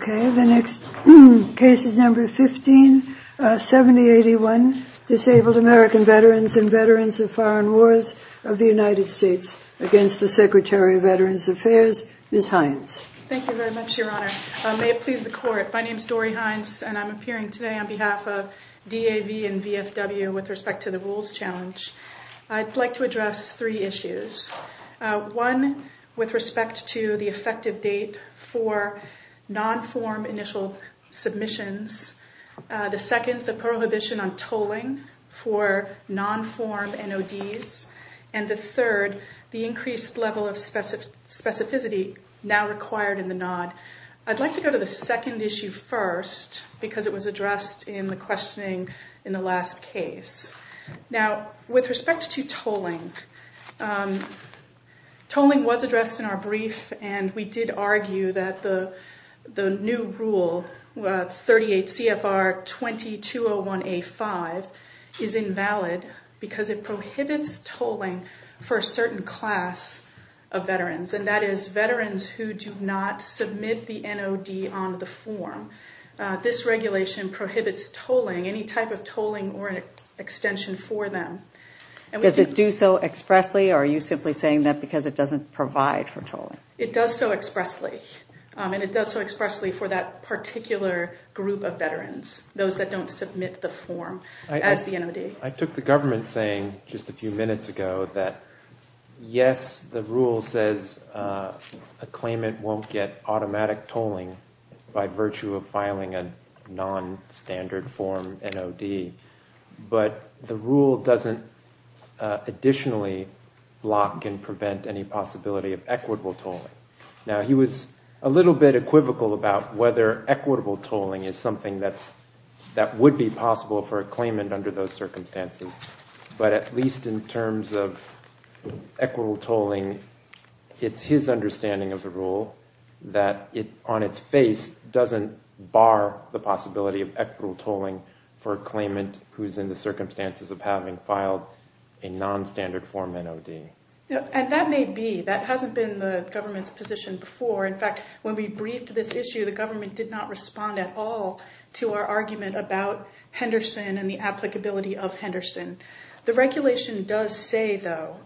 V. Secretary of Veterans Affairs 157081 Disabled American Veterans and Veterans of Foreign Wars of the United States against the Secretary of Veterans Affairs, Ms. Hines. Thank you very much, Your Honor. May it please the Court, my name is Dori Hines and I'm appearing today on behalf of DAV and VFW with respect to the Rules Challenge. I'd like to address three issues. One, with respect to the effective date for non-form initial submissions. The second, the prohibition on tolling for non-form NODs. And the third, the increased level of specificity now required in the NOD. I'd like to go to the second issue first because it was addressed in the questioning in the last case. Now, with respect to tolling, tolling was addressed in our brief and we did argue that the new rule 38 CFR 2201A5 is invalid because it prohibits tolling for a certain class of veterans. And that is veterans who do not submit the NOD on the form. This regulation prohibits tolling, any type of tolling or extension for them. Does it do so expressly or are you simply saying that because it doesn't provide for tolling? It does so expressly. And it does so expressly for that particular group of veterans, those that don't submit the form as the NOD. I took the government saying just a few minutes ago that yes, the rule says a claimant won't get automatic tolling by virtue of filing a non-standard form NOD. But the rule doesn't additionally block and prevent any possibility of equitable tolling. Now, he was a little bit equivocal about whether equitable tolling is something that would be possible for a claimant under those circumstances. But at least in terms of equitable tolling, it's his understanding of the rule that on its face doesn't bar the possibility of equitable tolling for a claimant who's in the circumstances of having filed a non-standard form NOD. And that may be. That hasn't been the government's position before. In fact, when we briefed this issue, the government did not respond at all to our argument about Henderson and the applicability of Henderson. The regulation does say, though,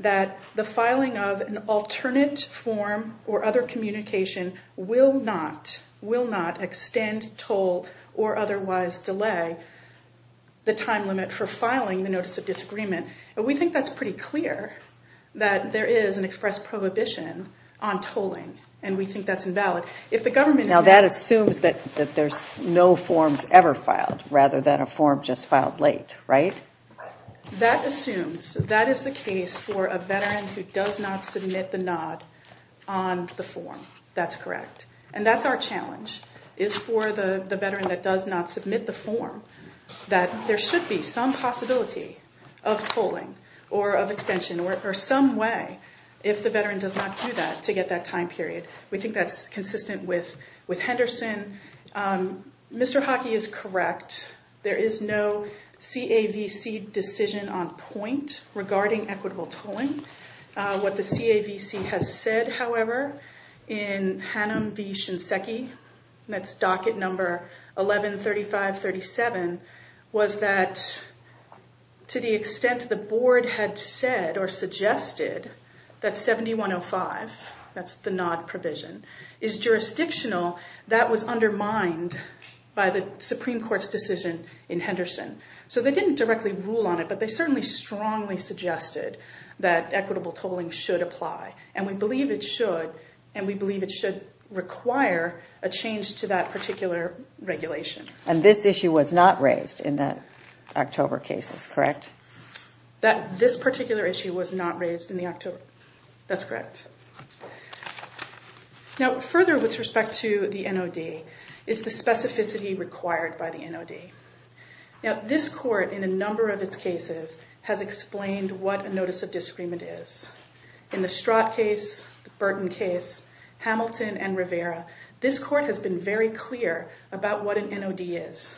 that the filing of an alternate form or other communication will not extend, toll, or otherwise delay the time limit for filing the Notice of Disagreement. And we think that's pretty clear that there is an express prohibition on tolling, and we think that's invalid. Now, that assumes that there's no forms ever filed rather than a form just filed late, right? That assumes. That is the case for a veteran who does not submit the NOD on the form. That's correct. And that's our challenge, is for the veteran that does not submit the form, that there should be some possibility of tolling or of extension or some way, if the veteran does not do that, to get that time period. We think that's consistent with Henderson. Mr. Hockey is correct. There is no CAVC decision on point regarding equitable tolling. What the CAVC has said, however, in Hannum v. Shinseki, that's docket number 113537, was that to the extent the board had said or suggested that 7105, that's the NOD provision, is jurisdictional, that was undermined by the Supreme Court's decision in Henderson. So they didn't directly rule on it, but they certainly strongly suggested that equitable tolling should apply, and we believe it should, and we believe it should require a change to that particular regulation. And this issue was not raised in the October cases, correct? This particular issue was not raised in the October. That's correct. Now further with respect to the NOD is the specificity required by the NOD. Now this court, in a number of its cases, has explained what a notice of disagreement is. In the Strott case, the Burton case, Hamilton, and Rivera, this court has been very clear about what an NOD is.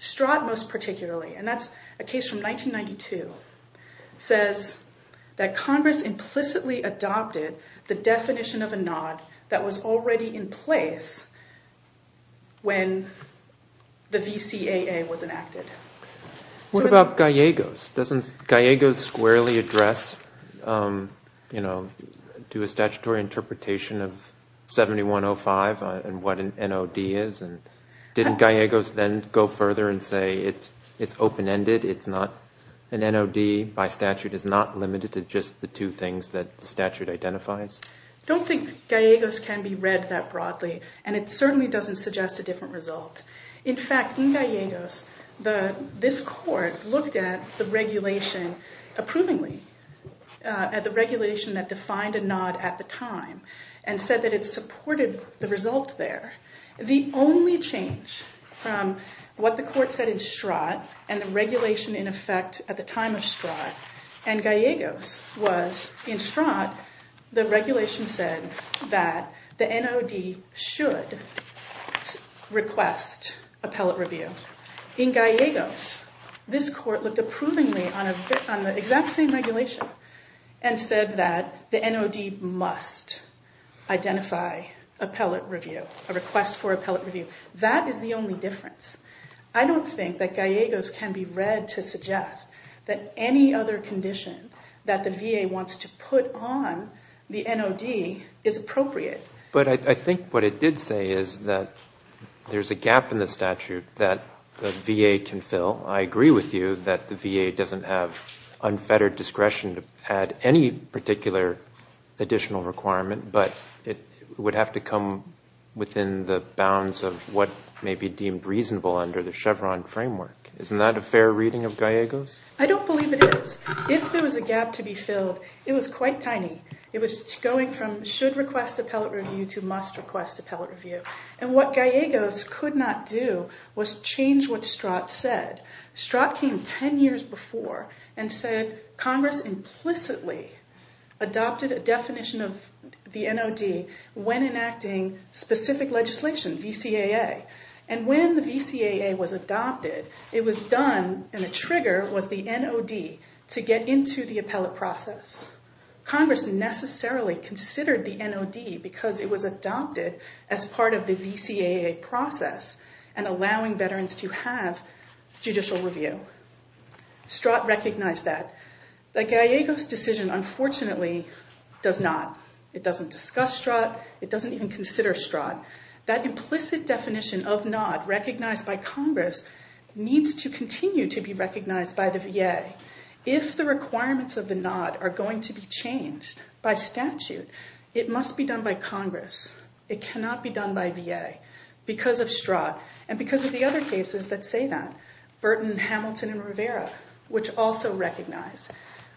Strott most particularly, and that's a case from 1992, says that Congress implicitly adopted the definition of a NOD that was already in place when the VCAA was enacted. What about Gallegos? Doesn't Gallegos squarely address, you know, do a statutory interpretation of 7105 and what an NOD is? And didn't Gallegos then go further and say it's open-ended, it's not an NOD, by statute it's not limited to just the two things that the statute identifies? I don't think Gallegos can be read that broadly, and it certainly doesn't suggest a different result. In fact, in Gallegos, this court looked at the regulation approvingly, at the regulation that defined a NOD at the time, and said that it supported the result there. The only change from what the court said in Strott, and the regulation in effect at the time of Strott, and Gallegos was in Strott, the regulation said that the NOD should request appellate review. In Gallegos, this court looked approvingly on the exact same regulation, and said that the NOD must identify appellate review, a request for appellate review. That is the only difference. I don't think that Gallegos can be read to suggest that any other condition that the VA wants to put on the NOD is appropriate. But I think what it did say is that there's a gap in the statute that the VA can fill. I agree with you that the VA doesn't have unfettered discretion to add any particular additional requirement, but it would have to come within the bounds of what may be deemed reasonable under the Chevron framework. Isn't that a fair reading of Gallegos? I don't believe it is. If there was a gap to be filled, it was quite tiny. It was going from should request appellate review to must request appellate review. And what Gallegos could not do was change what Strott said. Strott came 10 years before and said Congress implicitly adopted a definition of the NOD when enacting specific legislation, VCAA. And when the VCAA was adopted, it was done, and the trigger was the NOD to get into the appellate process. Congress necessarily considered the NOD because it was adopted as part of the VCAA process and allowing veterans to have judicial review. Strott recognized that. But Gallegos' decision, unfortunately, does not. It doesn't discuss Strott. It doesn't even consider Strott. That implicit definition of NOD recognized by Congress needs to continue to be recognized by the VA. If the requirements of the NOD are going to be changed by statute, it must be done by Congress. It cannot be done by VA because of Strott and because of the other cases that say that, Burton, Hamilton, and Rivera, which also recognize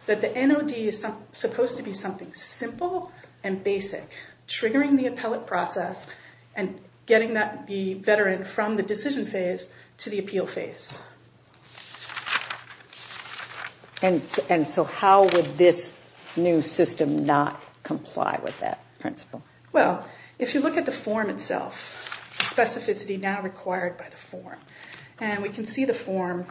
that the NOD is supposed to be something simple and basic, triggering the appellate process and getting the veteran from the decision phase to the appeal phase. And so how would this new system not comply with that principle? Well, if you look at the form itself, specificity now required by the form, and we can see the form,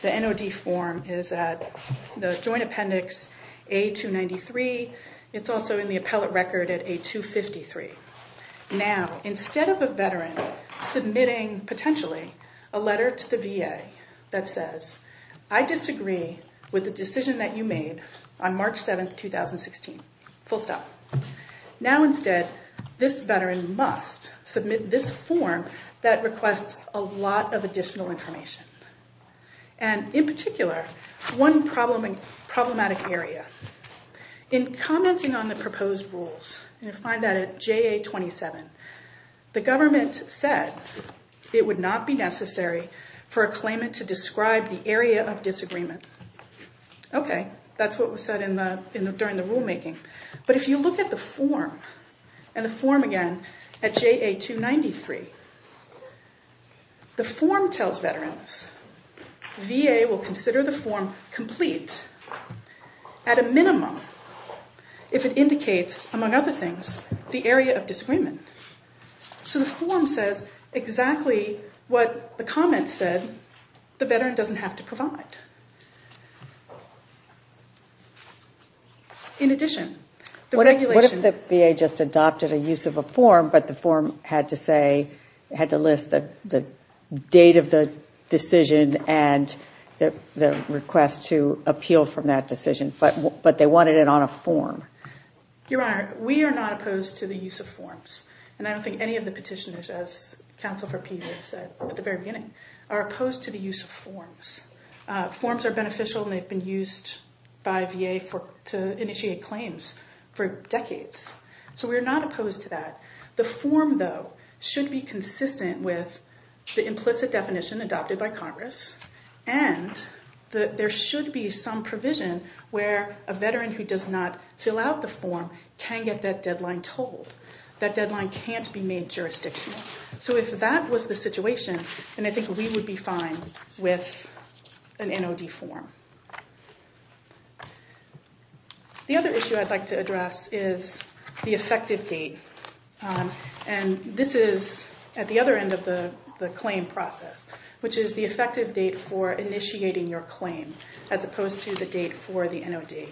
the NOD form is at the Joint Appendix A-293. It's also in the appellate record at A-253. Now, instead of a veteran submitting, potentially, a letter to the VA that says, I disagree with the decision that you made on March 7, 2016, full stop. Now, instead, this veteran must submit this form that requests a lot of additional information. And in particular, one problematic area. In commenting on the proposed rules, and you'll find that at JA-27, the government said it would not be necessary for a claimant to describe the area of disagreement. Okay, that's what was said during the rulemaking. But if you look at the form, and the form, again, at JA-293, the form tells veterans VA will consider the form complete at a minimum if it indicates, among other things, the area of disagreement. So the form says exactly what the comment said the veteran doesn't have to provide. In addition, the regulation- What if the VA just adopted a use of a form, but the form had to say, had to list the date of the decision and the request to appeal from that decision, but they wanted it on a form? Your Honor, we are not opposed to the use of forms. And I don't think any of the petitioners, as Counsel for Peter said at the very beginning, are opposed to the use of forms. Forms are beneficial, and they've been used by VA to initiate claims for decades. So we're not opposed to that. The form, though, should be consistent with the implicit definition adopted by Congress, and there should be some provision where a veteran who does not fill out the form can get that deadline told. That deadline can't be made jurisdictional. So if that was the situation, then I think we would be fine with an NOD form. The other issue I'd like to address is the effective date. And this is at the other end of the claim process, which is the effective date for initiating your claim as opposed to the date for the NOD.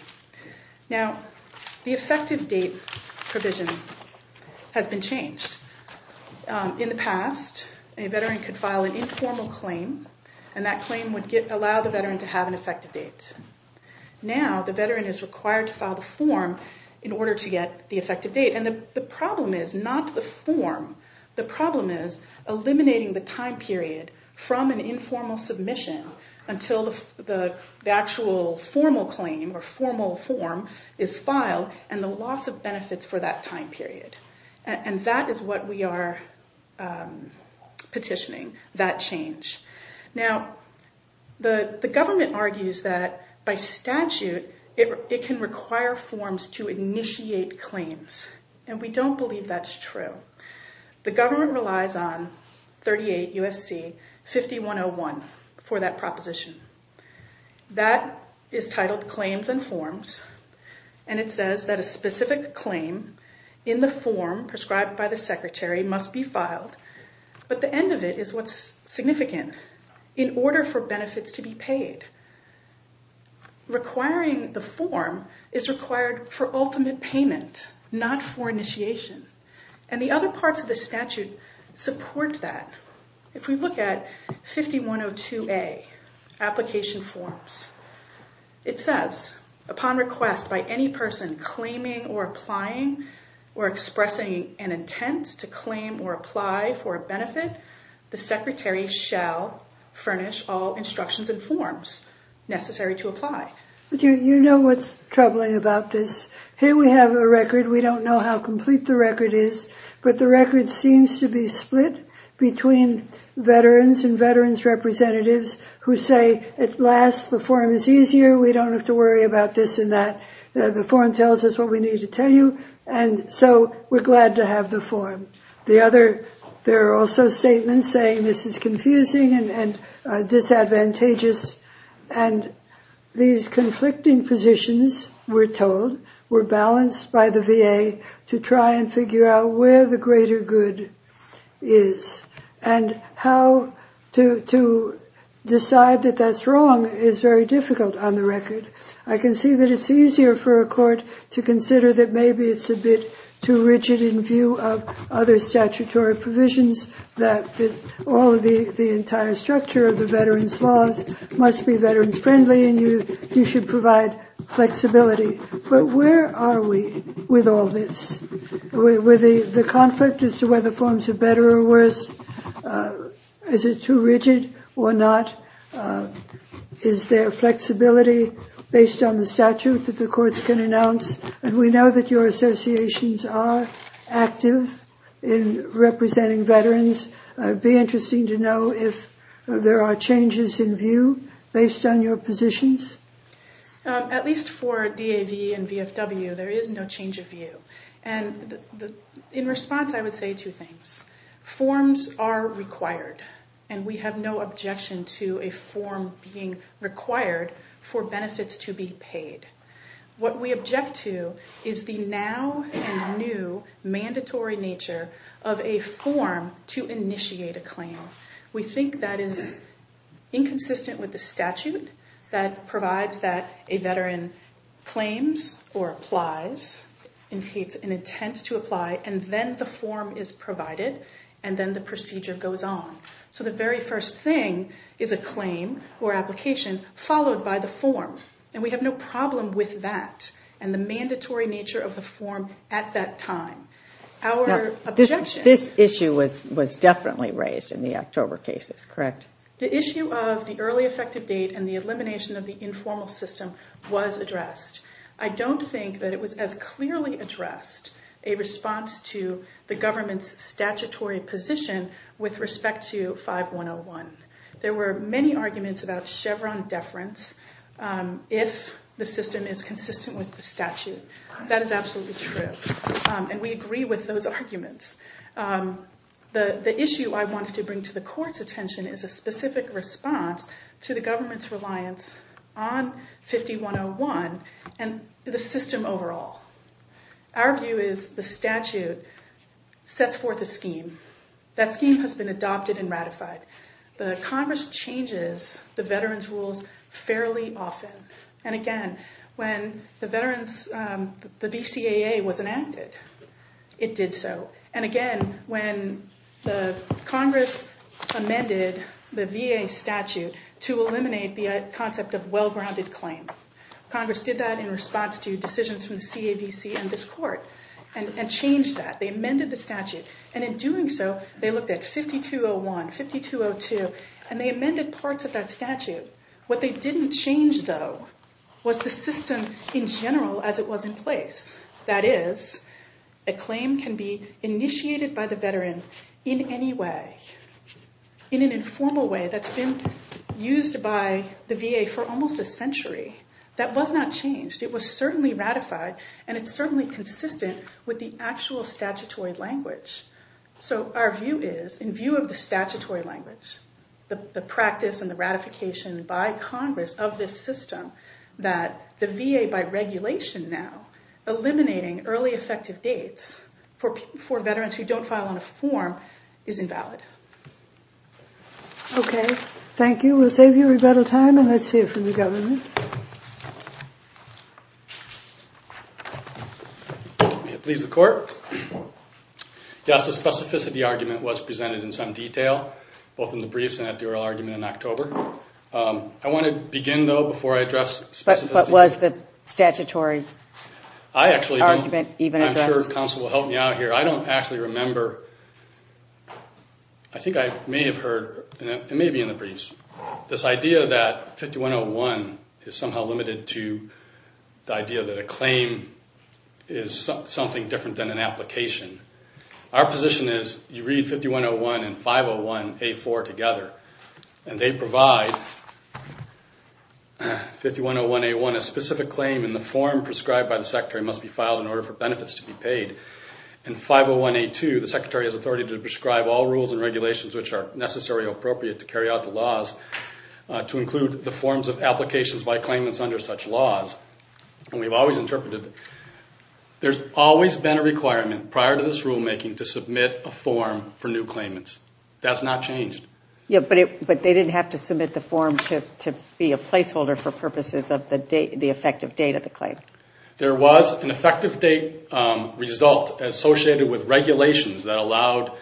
Now, the effective date provision has been changed. In the past, a veteran could file an informal claim, and that claim would allow the veteran to have an effective date. Now the veteran is required to file the form in order to get the effective date, and the problem is not the form. The problem is eliminating the time period from an informal submission until the actual formal claim or formal form is filed and the loss of benefits for that time period. And that is what we are petitioning, that change. Now, the government argues that by statute it can require forms to initiate claims, and we don't believe that's true. The government relies on 38 U.S.C. 5101 for that proposition. That is titled Claims and Forms, and it says that a specific claim in the form prescribed by the secretary must be filed, but the end of it is what's significant, in order for benefits to be paid. Requiring the form is required for ultimate payment, not for initiation, and the other parts of the statute support that. If we look at 5102A, Application Forms, it says, upon request by any person claiming or applying or expressing an intent to claim or apply for a benefit, the secretary shall furnish all instructions and forms necessary to apply. You know what's troubling about this? Here we have a record, we don't know how complete the record is, but the record seems to be split between veterans and veterans' representatives who say, at last, the form is easier, we don't have to worry about this and that, the form tells us what we need to tell you, and so we're glad to have the form. There are also statements saying this is confusing and disadvantageous, and these conflicting positions, we're told, were balanced by the VA to try and figure out where the greater good is, and how to decide that that's wrong is very difficult on the record. I can see that it's easier for a court to consider that maybe it's a bit too rigid in view of other statutory provisions, that all of the entire structure of the veterans' laws must be veterans-friendly, and you should provide flexibility. But where are we with all this? With the conflict as to whether forms are better or worse, is it too rigid or not? Is there flexibility based on the statute that the courts can announce? We know that your associations are active in representing veterans. It would be interesting to know if there are changes in view based on your positions. At least for DAV and VFW, there is no change of view. In response, I would say two things. Forms are required, and we have no objection to a form being required for benefits to be paid. What we object to is the now and new mandatory nature of a form to initiate a claim. We think that is inconsistent with the statute that provides that a veteran claims or applies, and it's an intent to apply, and then the form is provided, and then the procedure goes on. So the very first thing is a claim or application followed by the form, and we have no problem with that and the mandatory nature of the form at that time. This issue was definitely raised in the October cases, correct? The issue of the early effective date and the elimination of the informal system was addressed. I don't think that it was as clearly addressed a response to the government's statutory position with respect to 5101. There were many arguments about Chevron deference if the system is consistent with the statute. That is absolutely true, and we agree with those arguments. The issue I wanted to bring to the court's attention is a specific response to the government's reliance on 5101 and the system overall. That scheme has been adopted and ratified. The Congress changes the veterans' rules fairly often, and again, when the BCAA was enacted, it did so. And again, when Congress amended the VA statute to eliminate the concept of well-grounded claim, Congress did that in response to decisions from the CAVC and this court and changed that. They amended the statute, and in doing so, they looked at 5201, 5202, and they amended parts of that statute. What they didn't change, though, was the system in general as it was in place. That is, a claim can be initiated by the veteran in any way, in an informal way that's been used by the VA for almost a century. That was not changed. It was certainly ratified, and it's certainly consistent with the actual statutory language. So our view is, in view of the statutory language, the practice and the ratification by Congress of this system, that the VA, by regulation now, eliminating early effective dates for veterans who don't file on a form is invalid. Okay, thank you. We'll save you rebuttal time, and let's hear from the government. It leaves the court. Yes, the specificity argument was presented in some detail, both in the briefs and at the oral argument in October. I want to begin, though, before I address specificity. But what was the statutory argument even addressed? I'm sure counsel will help me out here. I don't actually remember. I think I may have heard, and it may be in the briefs, this idea that 5101 is somehow limited to the idea that a claim is something different than an application. Our position is you read 5101 and 501A4 together, and they provide 5101A1, and a specific claim in the form prescribed by the Secretary must be filed in order for benefits to be paid. In 501A2, the Secretary has authority to prescribe all rules and regulations which are necessary or appropriate to carry out the laws, to include the forms of applications by claimants under such laws. And we've always interpreted there's always been a requirement prior to this rulemaking to submit a form for new claimants. That's not changed. Yeah, but they didn't have to submit the form to be a placeholder for purposes of the effective date of the claim. There was an effective date result associated with regulations that allowed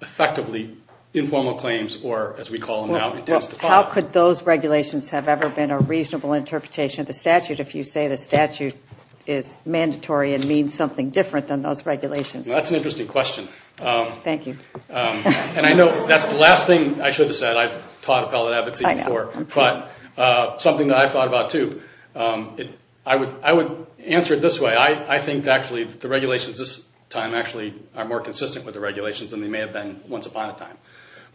effectively informal claims, or as we call them now, intense default. How could those regulations have ever been a reasonable interpretation of the statute if you say the statute is mandatory and means something different than those regulations? That's an interesting question. Thank you. And I know that's the last thing I should have said. I've taught appellate advocacy before, but something that I've thought about, too. I would answer it this way. I think, actually, the regulations this time actually are more consistent with the regulations than they may have been once upon a time.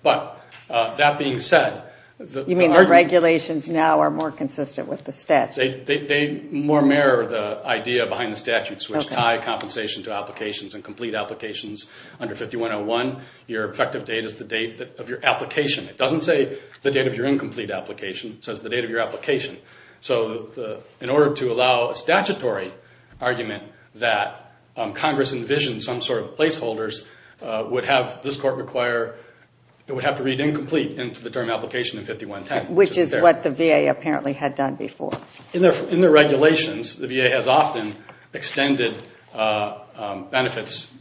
But that being said... You mean the regulations now are more consistent with the statute? They more mirror the idea behind the statutes, which tie compensation to applications and complete applications under 5101. Your effective date is the date of your application. It doesn't say the date of your incomplete application. It says the date of your application. So in order to allow a statutory argument that Congress envisioned some sort of placeholders, this court would have to read incomplete into the term application in 5110. Which is what the VA apparently had done before. In the regulations, the VA has often extended benefits,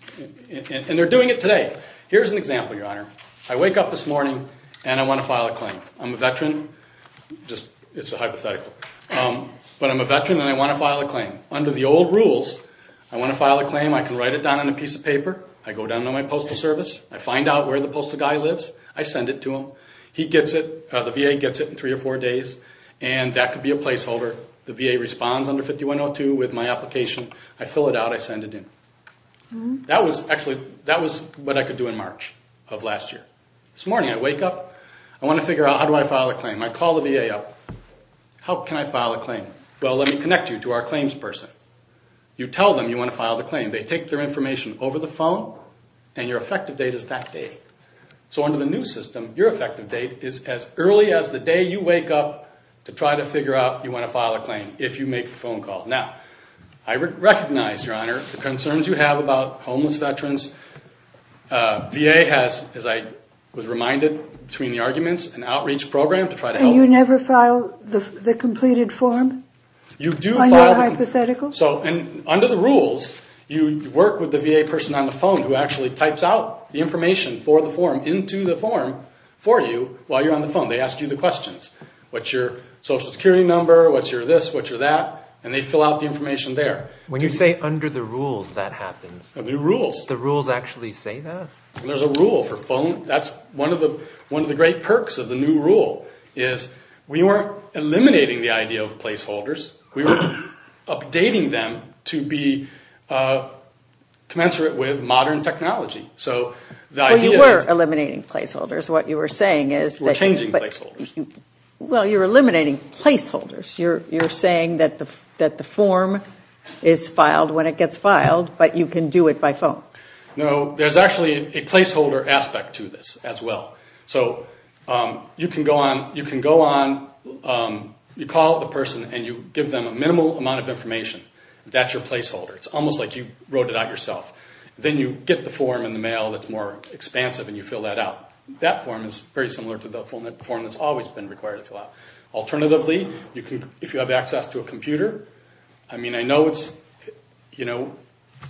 and they're doing it today. Here's an example, Your Honor. I wake up this morning, and I want to file a claim. I'm a veteran. It's a hypothetical. But I'm a veteran, and I want to file a claim. Under the old rules, I want to file a claim. I can write it down on a piece of paper. I go down to my postal service. I find out where the postal guy lives. I send it to him. He gets it. The VA gets it in three or four days. And that could be a placeholder. The VA responds under 5102 with my application. I fill it out. I send it in. That was actually what I could do in March of last year. This morning, I wake up. I want to figure out how do I file a claim. I call the VA up. How can I file a claim? Well, let me connect you to our claims person. You tell them you want to file the claim. They take their information over the phone, and your effective date is that day. So under the new system, your effective date is as early as the day you wake up to try to figure out you want to file a claim if you make a phone call. Now, I recognize, Your Honor, the concerns you have about homeless veterans. VA has, as I was reminded between the arguments, an outreach program to try to help. And you never file the completed form on your hypothetical? You do file. So under the rules, you work with the VA person on the phone who actually types out the information for the form into the form for you while you're on the phone. They ask you the questions. What's your Social Security number? What's your this? What's your that? And they fill out the information there. When you say under the rules, that happens? Under the rules. The rules actually say that? There's a rule for phone. That's one of the great perks of the new rule is we weren't eliminating the idea of placeholders. We were updating them to be commensurate with modern technology. Well, you were eliminating placeholders. What you were saying is? We're changing placeholders. Well, you're eliminating placeholders. You're saying that the form is filed when it gets filed, but you can do it by phone. No, there's actually a placeholder aspect to this as well. So you can go on, you call the person, and you give them a minimal amount of information. That's your placeholder. It's almost like you wrote it out yourself. Then you get the form in the mail that's more expansive, and you fill that out. That form is very similar to the full-length form that's always been required to fill out. Alternatively, if you have access to a computer, I mean, I know it's, you know,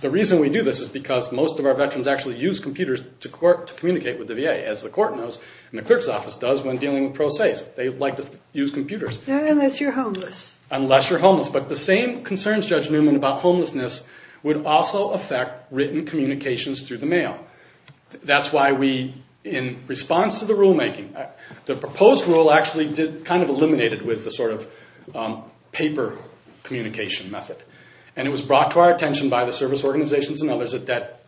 the reason we do this is because most of our veterans actually use computers to communicate with the VA, as the court knows and the clerk's office does when dealing with pro se. They like to use computers. Unless you're homeless. Unless you're homeless. But the same concerns, Judge Newman, about homelessness would also affect written communications through the mail. That's why we, in response to the rulemaking, the proposed rule actually kind of eliminated with the sort of paper communication method. And it was brought to our attention by the service organizations and others that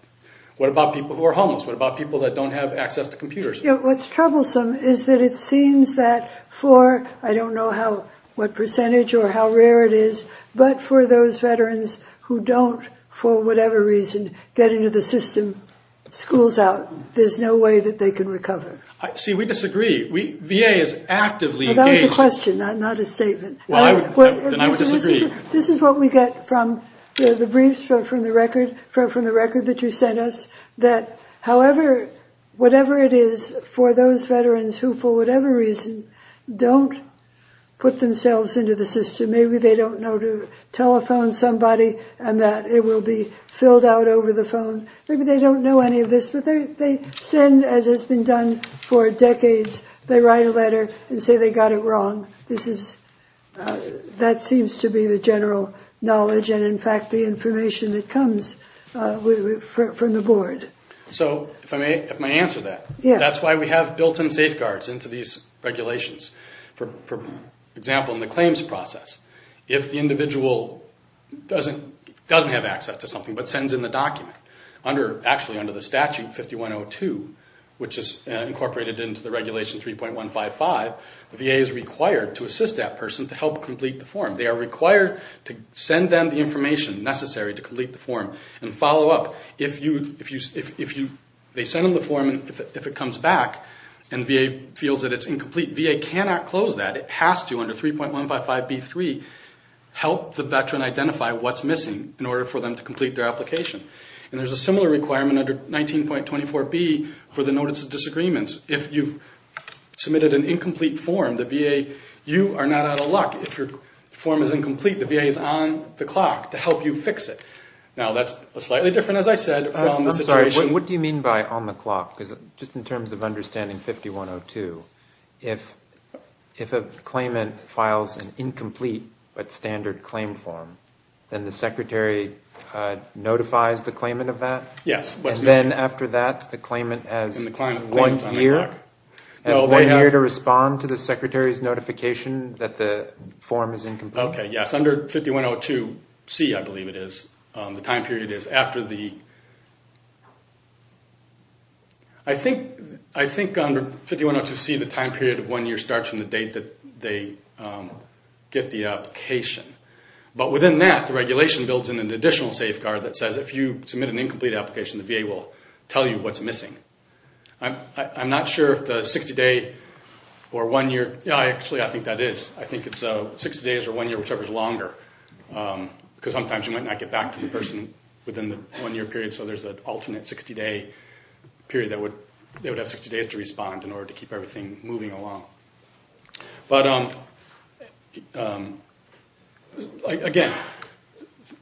what about people who are homeless? What about people that don't have access to computers? What's troublesome is that it seems that for, I don't know what percentage or how rare it is, but for those veterans who don't, for whatever reason, get into the system, school's out. There's no way that they can recover. See, we disagree. VA is actively engaged. That was a question, not a statement. Then I would disagree. This is what we get from the briefs, from the record that you sent us, that however, whatever it is, for those veterans who, for whatever reason, don't put themselves into the system, maybe they don't know to telephone somebody and that it will be filled out over the phone. Maybe they don't know any of this, but they send, as has been done for decades, they write a letter and say they got it wrong. That seems to be the general knowledge and, in fact, the information that comes from the board. So if I may answer that, that's why we have built-in safeguards into these regulations. For example, in the claims process, if the individual doesn't have access to something but sends in the document, actually under the statute 5102, which is incorporated into the regulation 3.155, the VA is required to assist that person to help complete the form. They are required to send them the information necessary to complete the form and follow up. If they send them the form and if it comes back and VA feels that it's incomplete, VA cannot close that. VA has to, under 3.155B3, help the veteran identify what's missing in order for them to complete their application. And there's a similar requirement under 19.24B for the Notice of Disagreements. If you've submitted an incomplete form, the VA, you are not out of luck. If your form is incomplete, the VA is on the clock to help you fix it. Now, that's slightly different, as I said, from the situation. What do you mean by on the clock? Just in terms of understanding 5102, if a claimant files an incomplete but standard claim form, then the secretary notifies the claimant of that? Yes. And then after that, the claimant has one year to respond to the secretary's notification that the form is incomplete? Okay, yes. Under 5102C, I believe it is, the time period is after the ‑‑ I think under 5102C, the time period of one year starts from the date that they get the application. But within that, the regulation builds in an additional safeguard that says if you submit an incomplete application, the VA will tell you what's missing. I'm not sure if the 60‑day or one‑year ‑‑ actually, I think that is. I think it's 60 days or one year, whichever is longer, because sometimes you might not get back to the person within the one‑year period, so there's an alternate 60‑day period that would have 60 days to respond in order to keep everything moving along. But, again,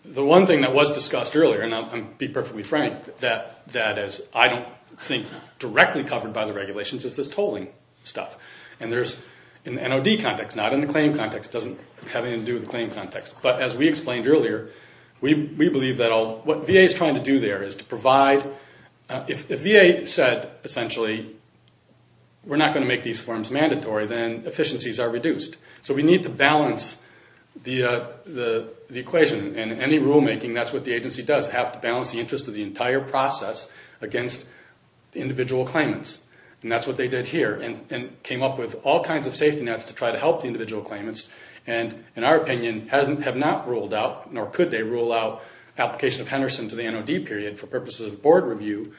the one thing that was discussed earlier, and I'll be perfectly frank, that I don't think is directly covered by the regulations is this tolling stuff. And there's an NOD context, not in the claim context. It doesn't have anything to do with the claim context. But as we explained earlier, we believe that all ‑‑ what VA is trying to do there is to provide ‑‑ if the VA said, essentially, we're not going to make these forms mandatory, then efficiencies are reduced. So we need to balance the equation. In any rulemaking, that's what the agency does, have to balance the interest of the entire process against the individual claimants. And that's what they did here and came up with all kinds of safety nets to try to help the individual claimants and, in our opinion, have not ruled out, nor could they rule out, application of Henderson to the NOD period for purposes of board review.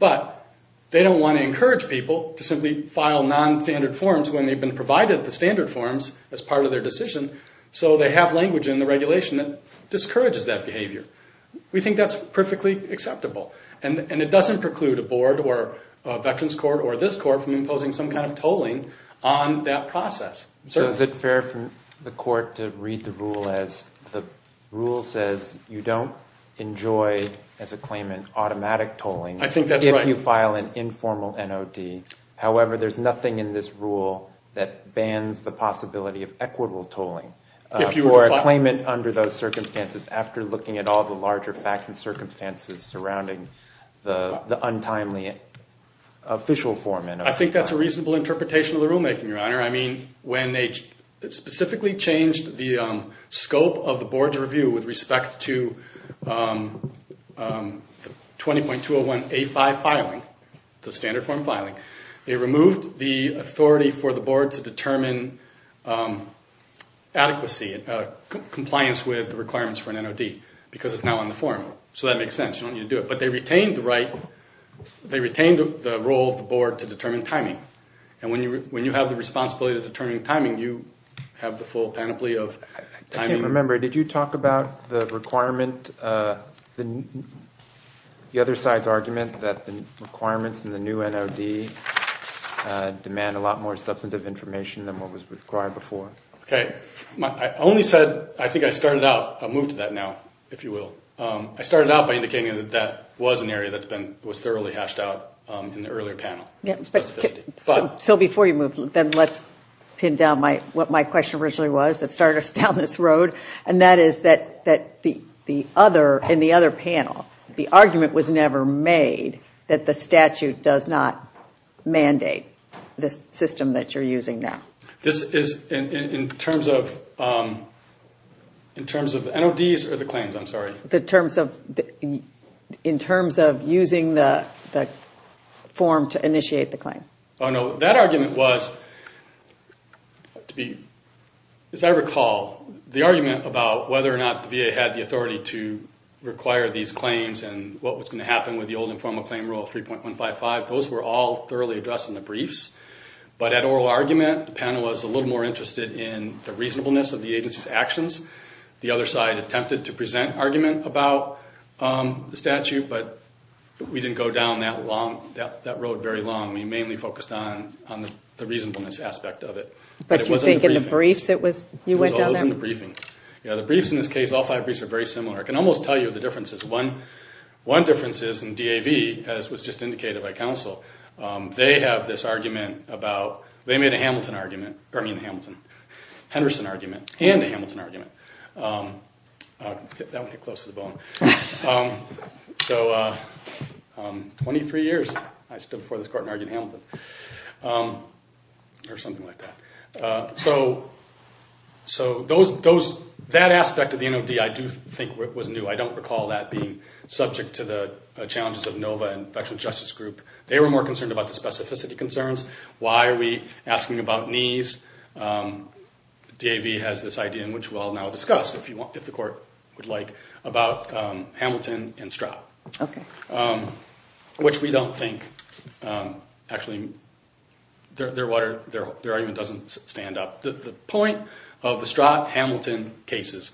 But they don't want to encourage people to simply file nonstandard forms when they've been provided the standard forms as part of their decision, so they have language in the regulation that discourages that behavior. We think that's perfectly acceptable. And it doesn't preclude a board or a veterans court or this court from imposing some kind of tolling on that process. So is it fair for the court to read the rule as the rule says you don't enjoy, as a claimant, automatic tolling. I think that's right. If you file an informal NOD. However, there's nothing in this rule that bans the possibility of equitable tolling. For a claimant under those circumstances after looking at all the larger facts and circumstances surrounding the untimely official form. I think that's a reasonable interpretation of the rulemaking, Your Honor. I mean, when they specifically changed the scope of the board's review with respect to 20.201A5 filing, the standard form filing, they removed the authority for the board to determine adequacy and compliance with the requirements for an NOD because it's now on the form. So that makes sense. You don't need to do it. But they retained the role of the board to determine timing. And when you have the responsibility to determine timing, you have the full panoply of timing. I can't remember. Did you talk about the requirement, the other side's argument that the requirements in the new NOD demand a lot more substantive information than what was required before? Okay. I only said, I think I started out, I'll move to that now, if you will. I started out by indicating that that was an area that was thoroughly hashed out in the earlier panel. So before you move, then let's pin down what my question originally was that started us down this road, and that is that in the other panel, the argument was never made that the statute does not mandate the system that you're using now. This is in terms of NODs or the claims? I'm sorry. In terms of using the form to initiate the claim. Oh, no. That argument was, as I recall, the argument about whether or not the VA had the authority to require these claims and what was going to happen with the old informal claim rule 3.155, those were all thoroughly addressed in the briefs. But at oral argument, the panel was a little more interested in the reasonableness of the agency's actions. The other side attempted to present argument about the statute, but we didn't go down that road very long. We mainly focused on the reasonableness aspect of it. But you think in the briefs it was, you went down there? It was always in the briefing. The briefs in this case, all five briefs are very similar. I can almost tell you the differences. One difference is in DAV, as was just indicated by counsel, they have this argument about, they made a Hamilton argument, or I mean Henderson argument and a Hamilton argument. That one hit close to the bone. So 23 years I stood before this court and argued Hamilton or something like that. So that aspect of the NOD I do think was new. I don't recall that being subject to the challenges of NOVA, Infectious Justice Group. They were more concerned about the specificity concerns. Why are we asking about knees? DAV has this idea, which we'll now discuss, if the court would like, about Hamilton and Stratt. Which we don't think, actually, their argument doesn't stand up. The point of the Stratt-Hamilton cases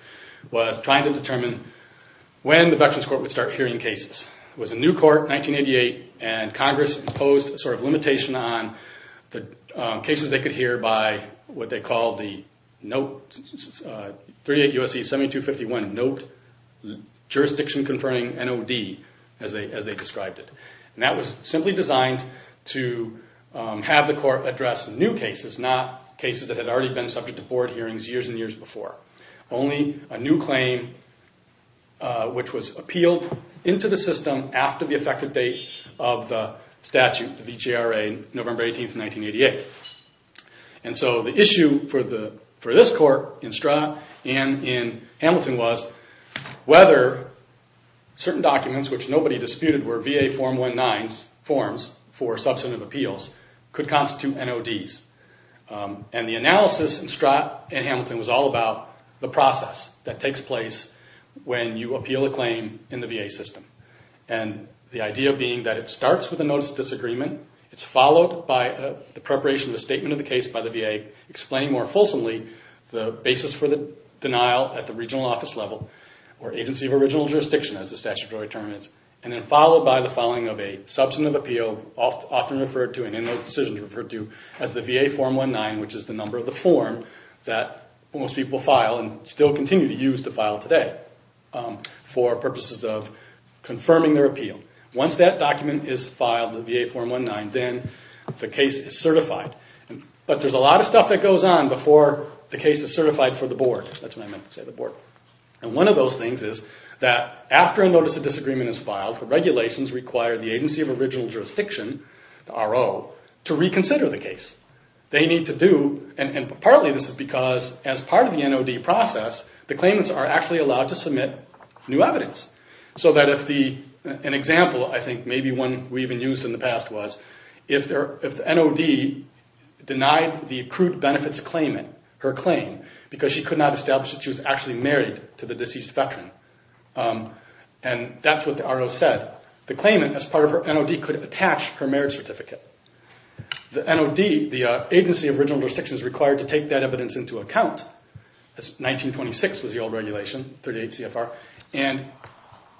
was trying to determine when the Veterans Court would start hearing cases. It was a new court, 1988, and Congress imposed a sort of limitation on the cases they could hear by what they called the 38 U.S.C. 7251 Note, Jurisdiction Conferring NOD, as they described it. That was simply designed to have the court address new cases, not cases that had already been subject to board hearings years and years before. Only a new claim, which was appealed into the system after the effective date of the statute, the VJRA, November 18, 1988. So the issue for this court, in Stratt and in Hamilton, was whether certain documents, which nobody disputed were VA Form 1-9 forms for substantive appeals, could constitute NODs. The analysis in Stratt and Hamilton was all about the process that takes place when you appeal a claim in the VA system. The idea being that it starts with a Notice of Disagreement. It's followed by the preparation of a statement of the case by the VA, explaining more fulsomely the basis for the denial at the regional office level, or Agency of Original Jurisdiction, as the statutory term is. And then followed by the filing of a substantive appeal, often referred to, and in those decisions referred to, as the VA Form 1-9, which is the number of the form that most people file and still continue to use to file today for purposes of confirming their appeal. Once that document is filed, the VA Form 1-9, then the case is certified. But there's a lot of stuff that goes on before the case is certified for the board. That's what I meant to say, the board. And one of those things is that after a Notice of Disagreement is filed, the regulations require the Agency of Original Jurisdiction, the RO, to reconsider the case. They need to do, and partly this is because as part of the NOD process, the claimants are actually allowed to submit new evidence. So that if the, an example I think maybe one we even used in the past was, if the NOD denied the accrued benefits claimant her claim, because she could not establish that she was actually married to the deceased veteran. And that's what the RO said. The claimant, as part of her NOD, could attach her marriage certificate. The NOD, the Agency of Original Jurisdiction, is required to take that evidence into account. 1926 was the old regulation, 38 CFR. And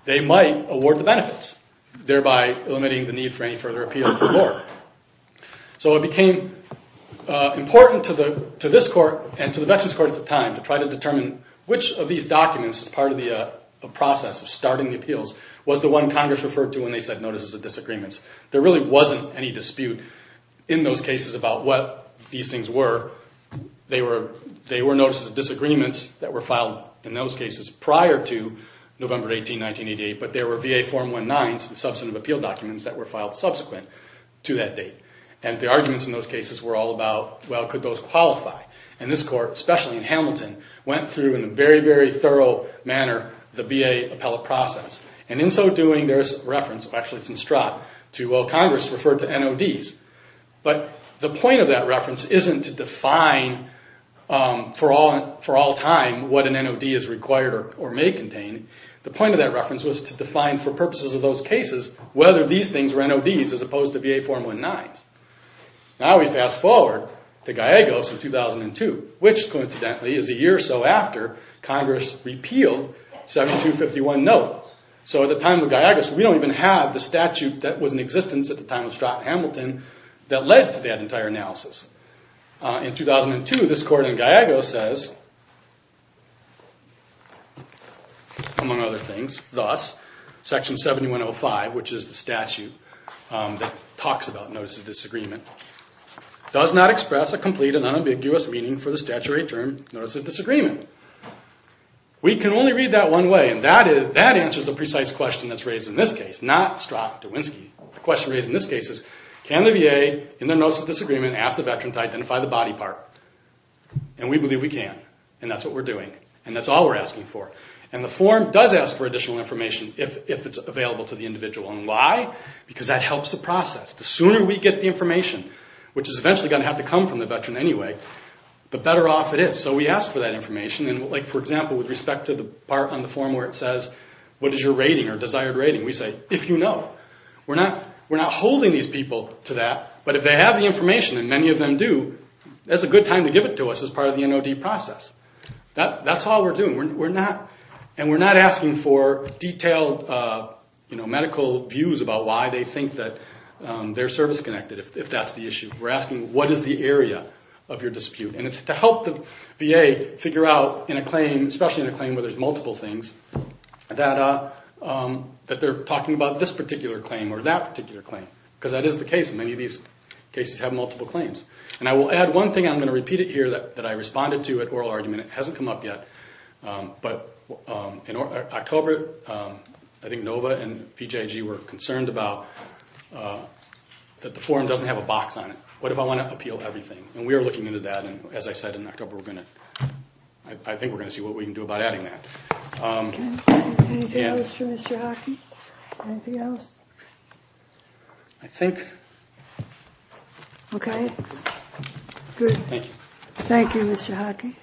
they might award the benefits, thereby eliminating the need for any further appeal to the board. So it became important to this court and to the Veterans Court at the time to try to determine which of these documents, as part of the process of starting the appeals, was the one Congress referred to when they said Notices of Disagreements. There really wasn't any dispute in those cases about what these things were. They were Notices of Disagreements that were filed in those cases prior to November 18, 1988, but there were VA Form 1-9s, the substantive appeal documents, that were filed subsequent to that date. And the arguments in those cases were all about, well, could those qualify? And this court, especially in Hamilton, went through in a very, very thorough manner the VA appellate process. And in so doing, there's reference, actually it's in Stratt, to, well, Congress referred to NODs. But the point of that reference isn't to define for all time what an NOD is required or may contain. The point of that reference was to define for purposes of those cases whether these things were NODs as opposed to VA Form 1-9s. Now we fast forward to Gallegos in 2002, which, coincidentally, is a year or so after Congress repealed 7251-NO. So at the time of Gallegos, we don't even have the statute that was in existence at the time of Stratt and Hamilton that led to that entire analysis. In 2002, this court in Gallegos says, among other things, thus, Section 7105, which is the statute that talks about notices of disagreement, does not express a complete and unambiguous meaning for the statutory term, notices of disagreement. We can only read that one way, and that answers the precise question that's raised in this case, not Stratt to Winsky. The question raised in this case is, can the VA, in their notice of disagreement, ask the Veteran to identify the body part? And we believe we can, and that's what we're doing, and that's all we're asking for. And the form does ask for additional information if it's available to the individual. And why? Because that helps the process. The sooner we get the information, which is eventually going to have to come from the Veteran anyway, the better off it is. So we ask for that information. Like, for example, with respect to the part on the form where it says, what is your rating or desired rating? We say, if you know. We're not holding these people to that, but if they have the information, and many of them do, that's a good time to give it to us as part of the NOD process. That's all we're doing. And we're not asking for detailed medical views about why they think that they're service-connected, if that's the issue. We're asking, what is the area of your dispute? And it's to help the VA figure out in a claim, especially in a claim where there's multiple things, that they're talking about this particular claim or that particular claim, because that is the case. Many of these cases have multiple claims. And I will add one thing. I'm going to repeat it here that I responded to at oral argument. It hasn't come up yet, but in October, I think NOVA and PJG were concerned about that the form doesn't have a box on it. What if I want to appeal everything? And we are looking into that, and as I said in October, I think we're going to see what we can do about adding that. Anything else for Mr. Hockey? Anything else? I think. Okay. Good. Thank you. Thank you, Mr. Hockey.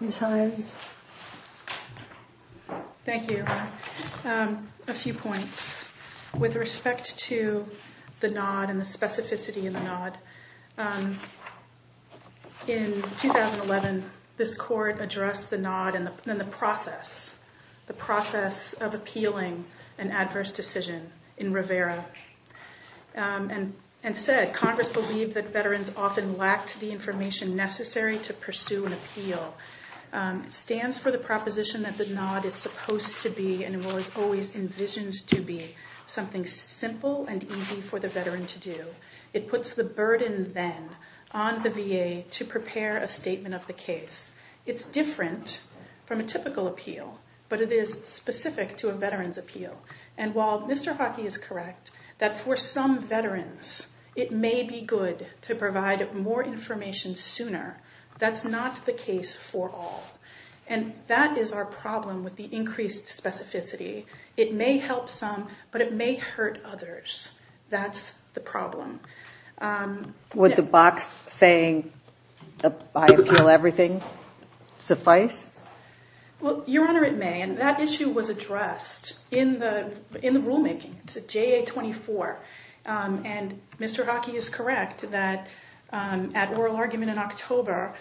Ms. Hines. Thank you. A few points. With respect to the NOD and the specificity of the NOD. In 2011, this court addressed the NOD and the process, the process of appealing an adverse decision in Rivera. And said, Congress believed that veterans often lacked the information necessary to pursue an appeal. Stands for the proposition that the NOD is supposed to be and was always envisioned to be something simple and easy for the veteran to do. It puts the burden then on the VA to prepare a statement of the case. It's different from a typical appeal, but it is specific to a veteran's appeal. And while Mr. Hockey is correct that for some veterans, it may be good to provide more information sooner. That's not the case for all. And that is our problem with the increased specificity. It may help some, but it may hurt others. That's the problem. Would the box saying, I appeal everything, suffice? Well, Your Honor, it may. And that issue was addressed in the rulemaking. It's a JA-24. And Mr. Hockey is correct that at oral argument in October,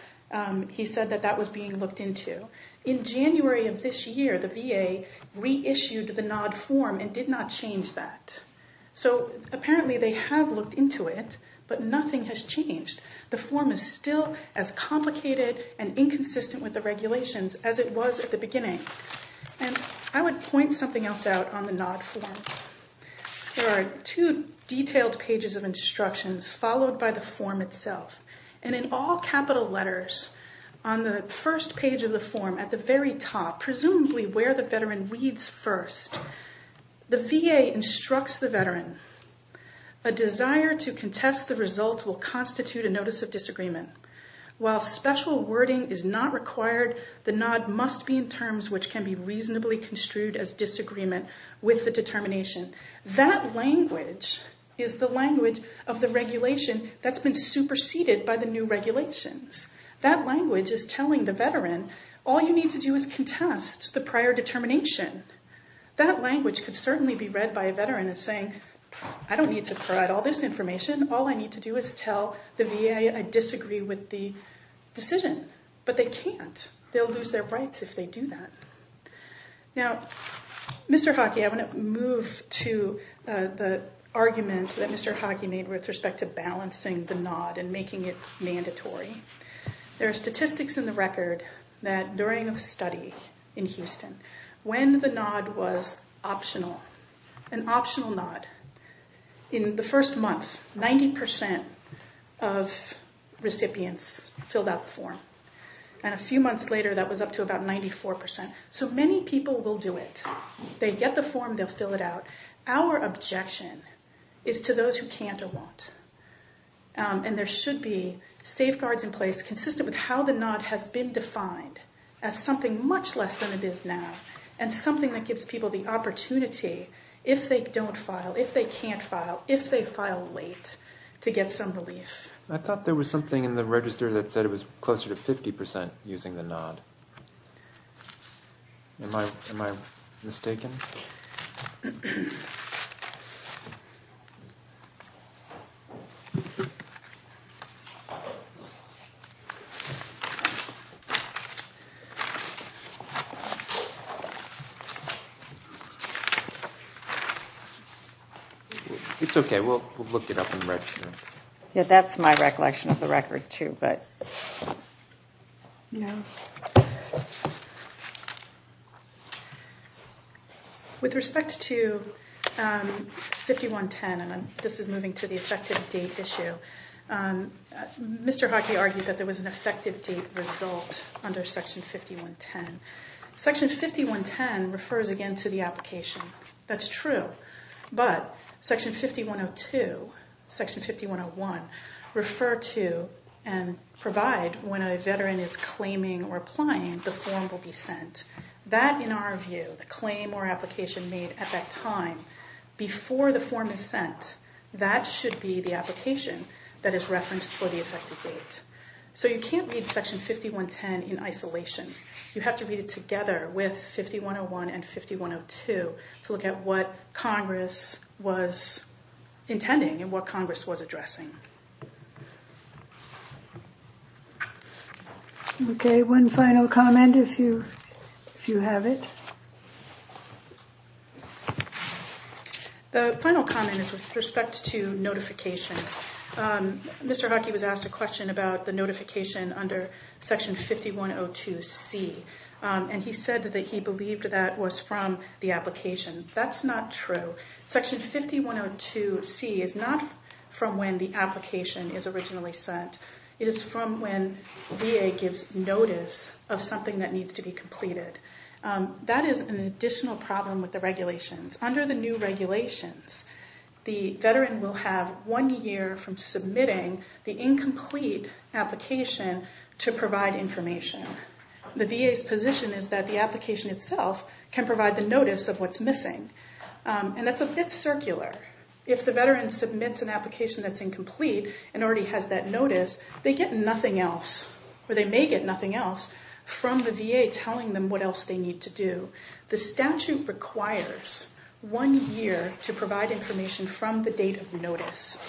he said that that was being looked into. In January of this year, the VA reissued the NOD form and did not change that. So apparently they have looked into it, but nothing has changed. The form is still as complicated and inconsistent with the regulations as it was at the beginning. And I would point something else out on the NOD form. There are two detailed pages of instructions followed by the form itself. And in all capital letters on the first page of the form, at the very top, presumably where the veteran reads first, the VA instructs the veteran, a desire to contest the result will constitute a notice of disagreement. While special wording is not required, the NOD must be in terms which can be reasonably construed as disagreement with the determination. That language is the language of the regulation that's been superseded by the new regulations. That language is telling the veteran, all you need to do is contest the prior determination. That language could certainly be read by a veteran as saying, I don't need to provide all this information. All I need to do is tell the VA I disagree with the decision. But they can't. They'll lose their rights if they do that. Now, Mr. Hockey, I want to move to the argument that Mr. Hockey made with respect to balancing the NOD and making it mandatory. There are statistics in the record that during a study in Houston, when the NOD was optional, an optional NOD, in the first month, 90% of recipients filled out the form. And a few months later, that was up to about 94%. So many people will do it. They get the form, they'll fill it out. Our objection is to those who can't or won't. And there should be safeguards in place consistent with how the NOD has been defined as something much less than it is now, and something that gives people the opportunity, if they don't file, if they can't file, if they file late, to get some relief. I thought there was something in the register that said it was closer to 50% using the NOD. Am I mistaken? It's okay. We'll look it up in the register. That's my recollection of the record, too. With respect to 5110, and this is moving to the effective date issue, Mr. Hockey argued that there was an effective date result under Section 5110. Section 5110 refers again to the application. That's true. But Section 5102, Section 5101, refer to and provide when a veteran is claiming or applying, the form will be sent. That, in our view, the claim or application made at that time, before the form is sent, that should be the application that is referenced for the effective date. So you can't read Section 5110 in isolation. You have to read it together with 5101 and 5102 to look at what Congress was intending and what Congress was addressing. Okay, one final comment, if you have it. The final comment is with respect to notifications. Mr. Hockey was asked a question about the notification under Section 5102C, and he said that he believed that was from the application. That's not true. Section 5102C is not from when the application is originally sent. It is from when VA gives notice of something that needs to be completed. That is an additional problem with the regulations. Under the new regulations, the veteran will have one year from submitting the incomplete application to provide information. The VA's position is that the application itself can provide the notice of what's missing, and that's a bit circular. If the veteran submits an application that's incomplete and already has that notice, they get nothing else, or they may get nothing else, from the VA telling them what else they need to do. The statute requires one year to provide information from the date of notice,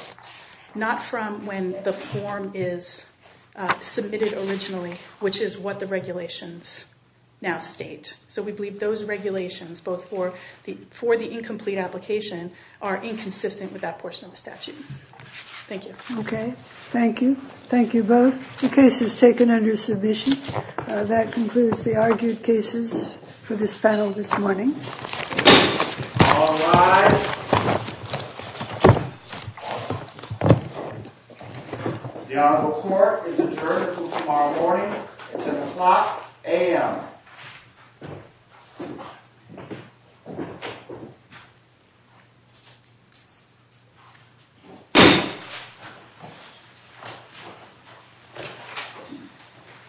not from when the form is submitted originally, which is what the regulations now state. So we believe those regulations, both for the incomplete application, are inconsistent with that portion of the statute. Thank you. Okay, thank you. Thank you both. The case is taken under submission. That concludes the argued cases for this panel this morning. All rise. The honorable court is adjourned until tomorrow morning at 10 o'clock a.m.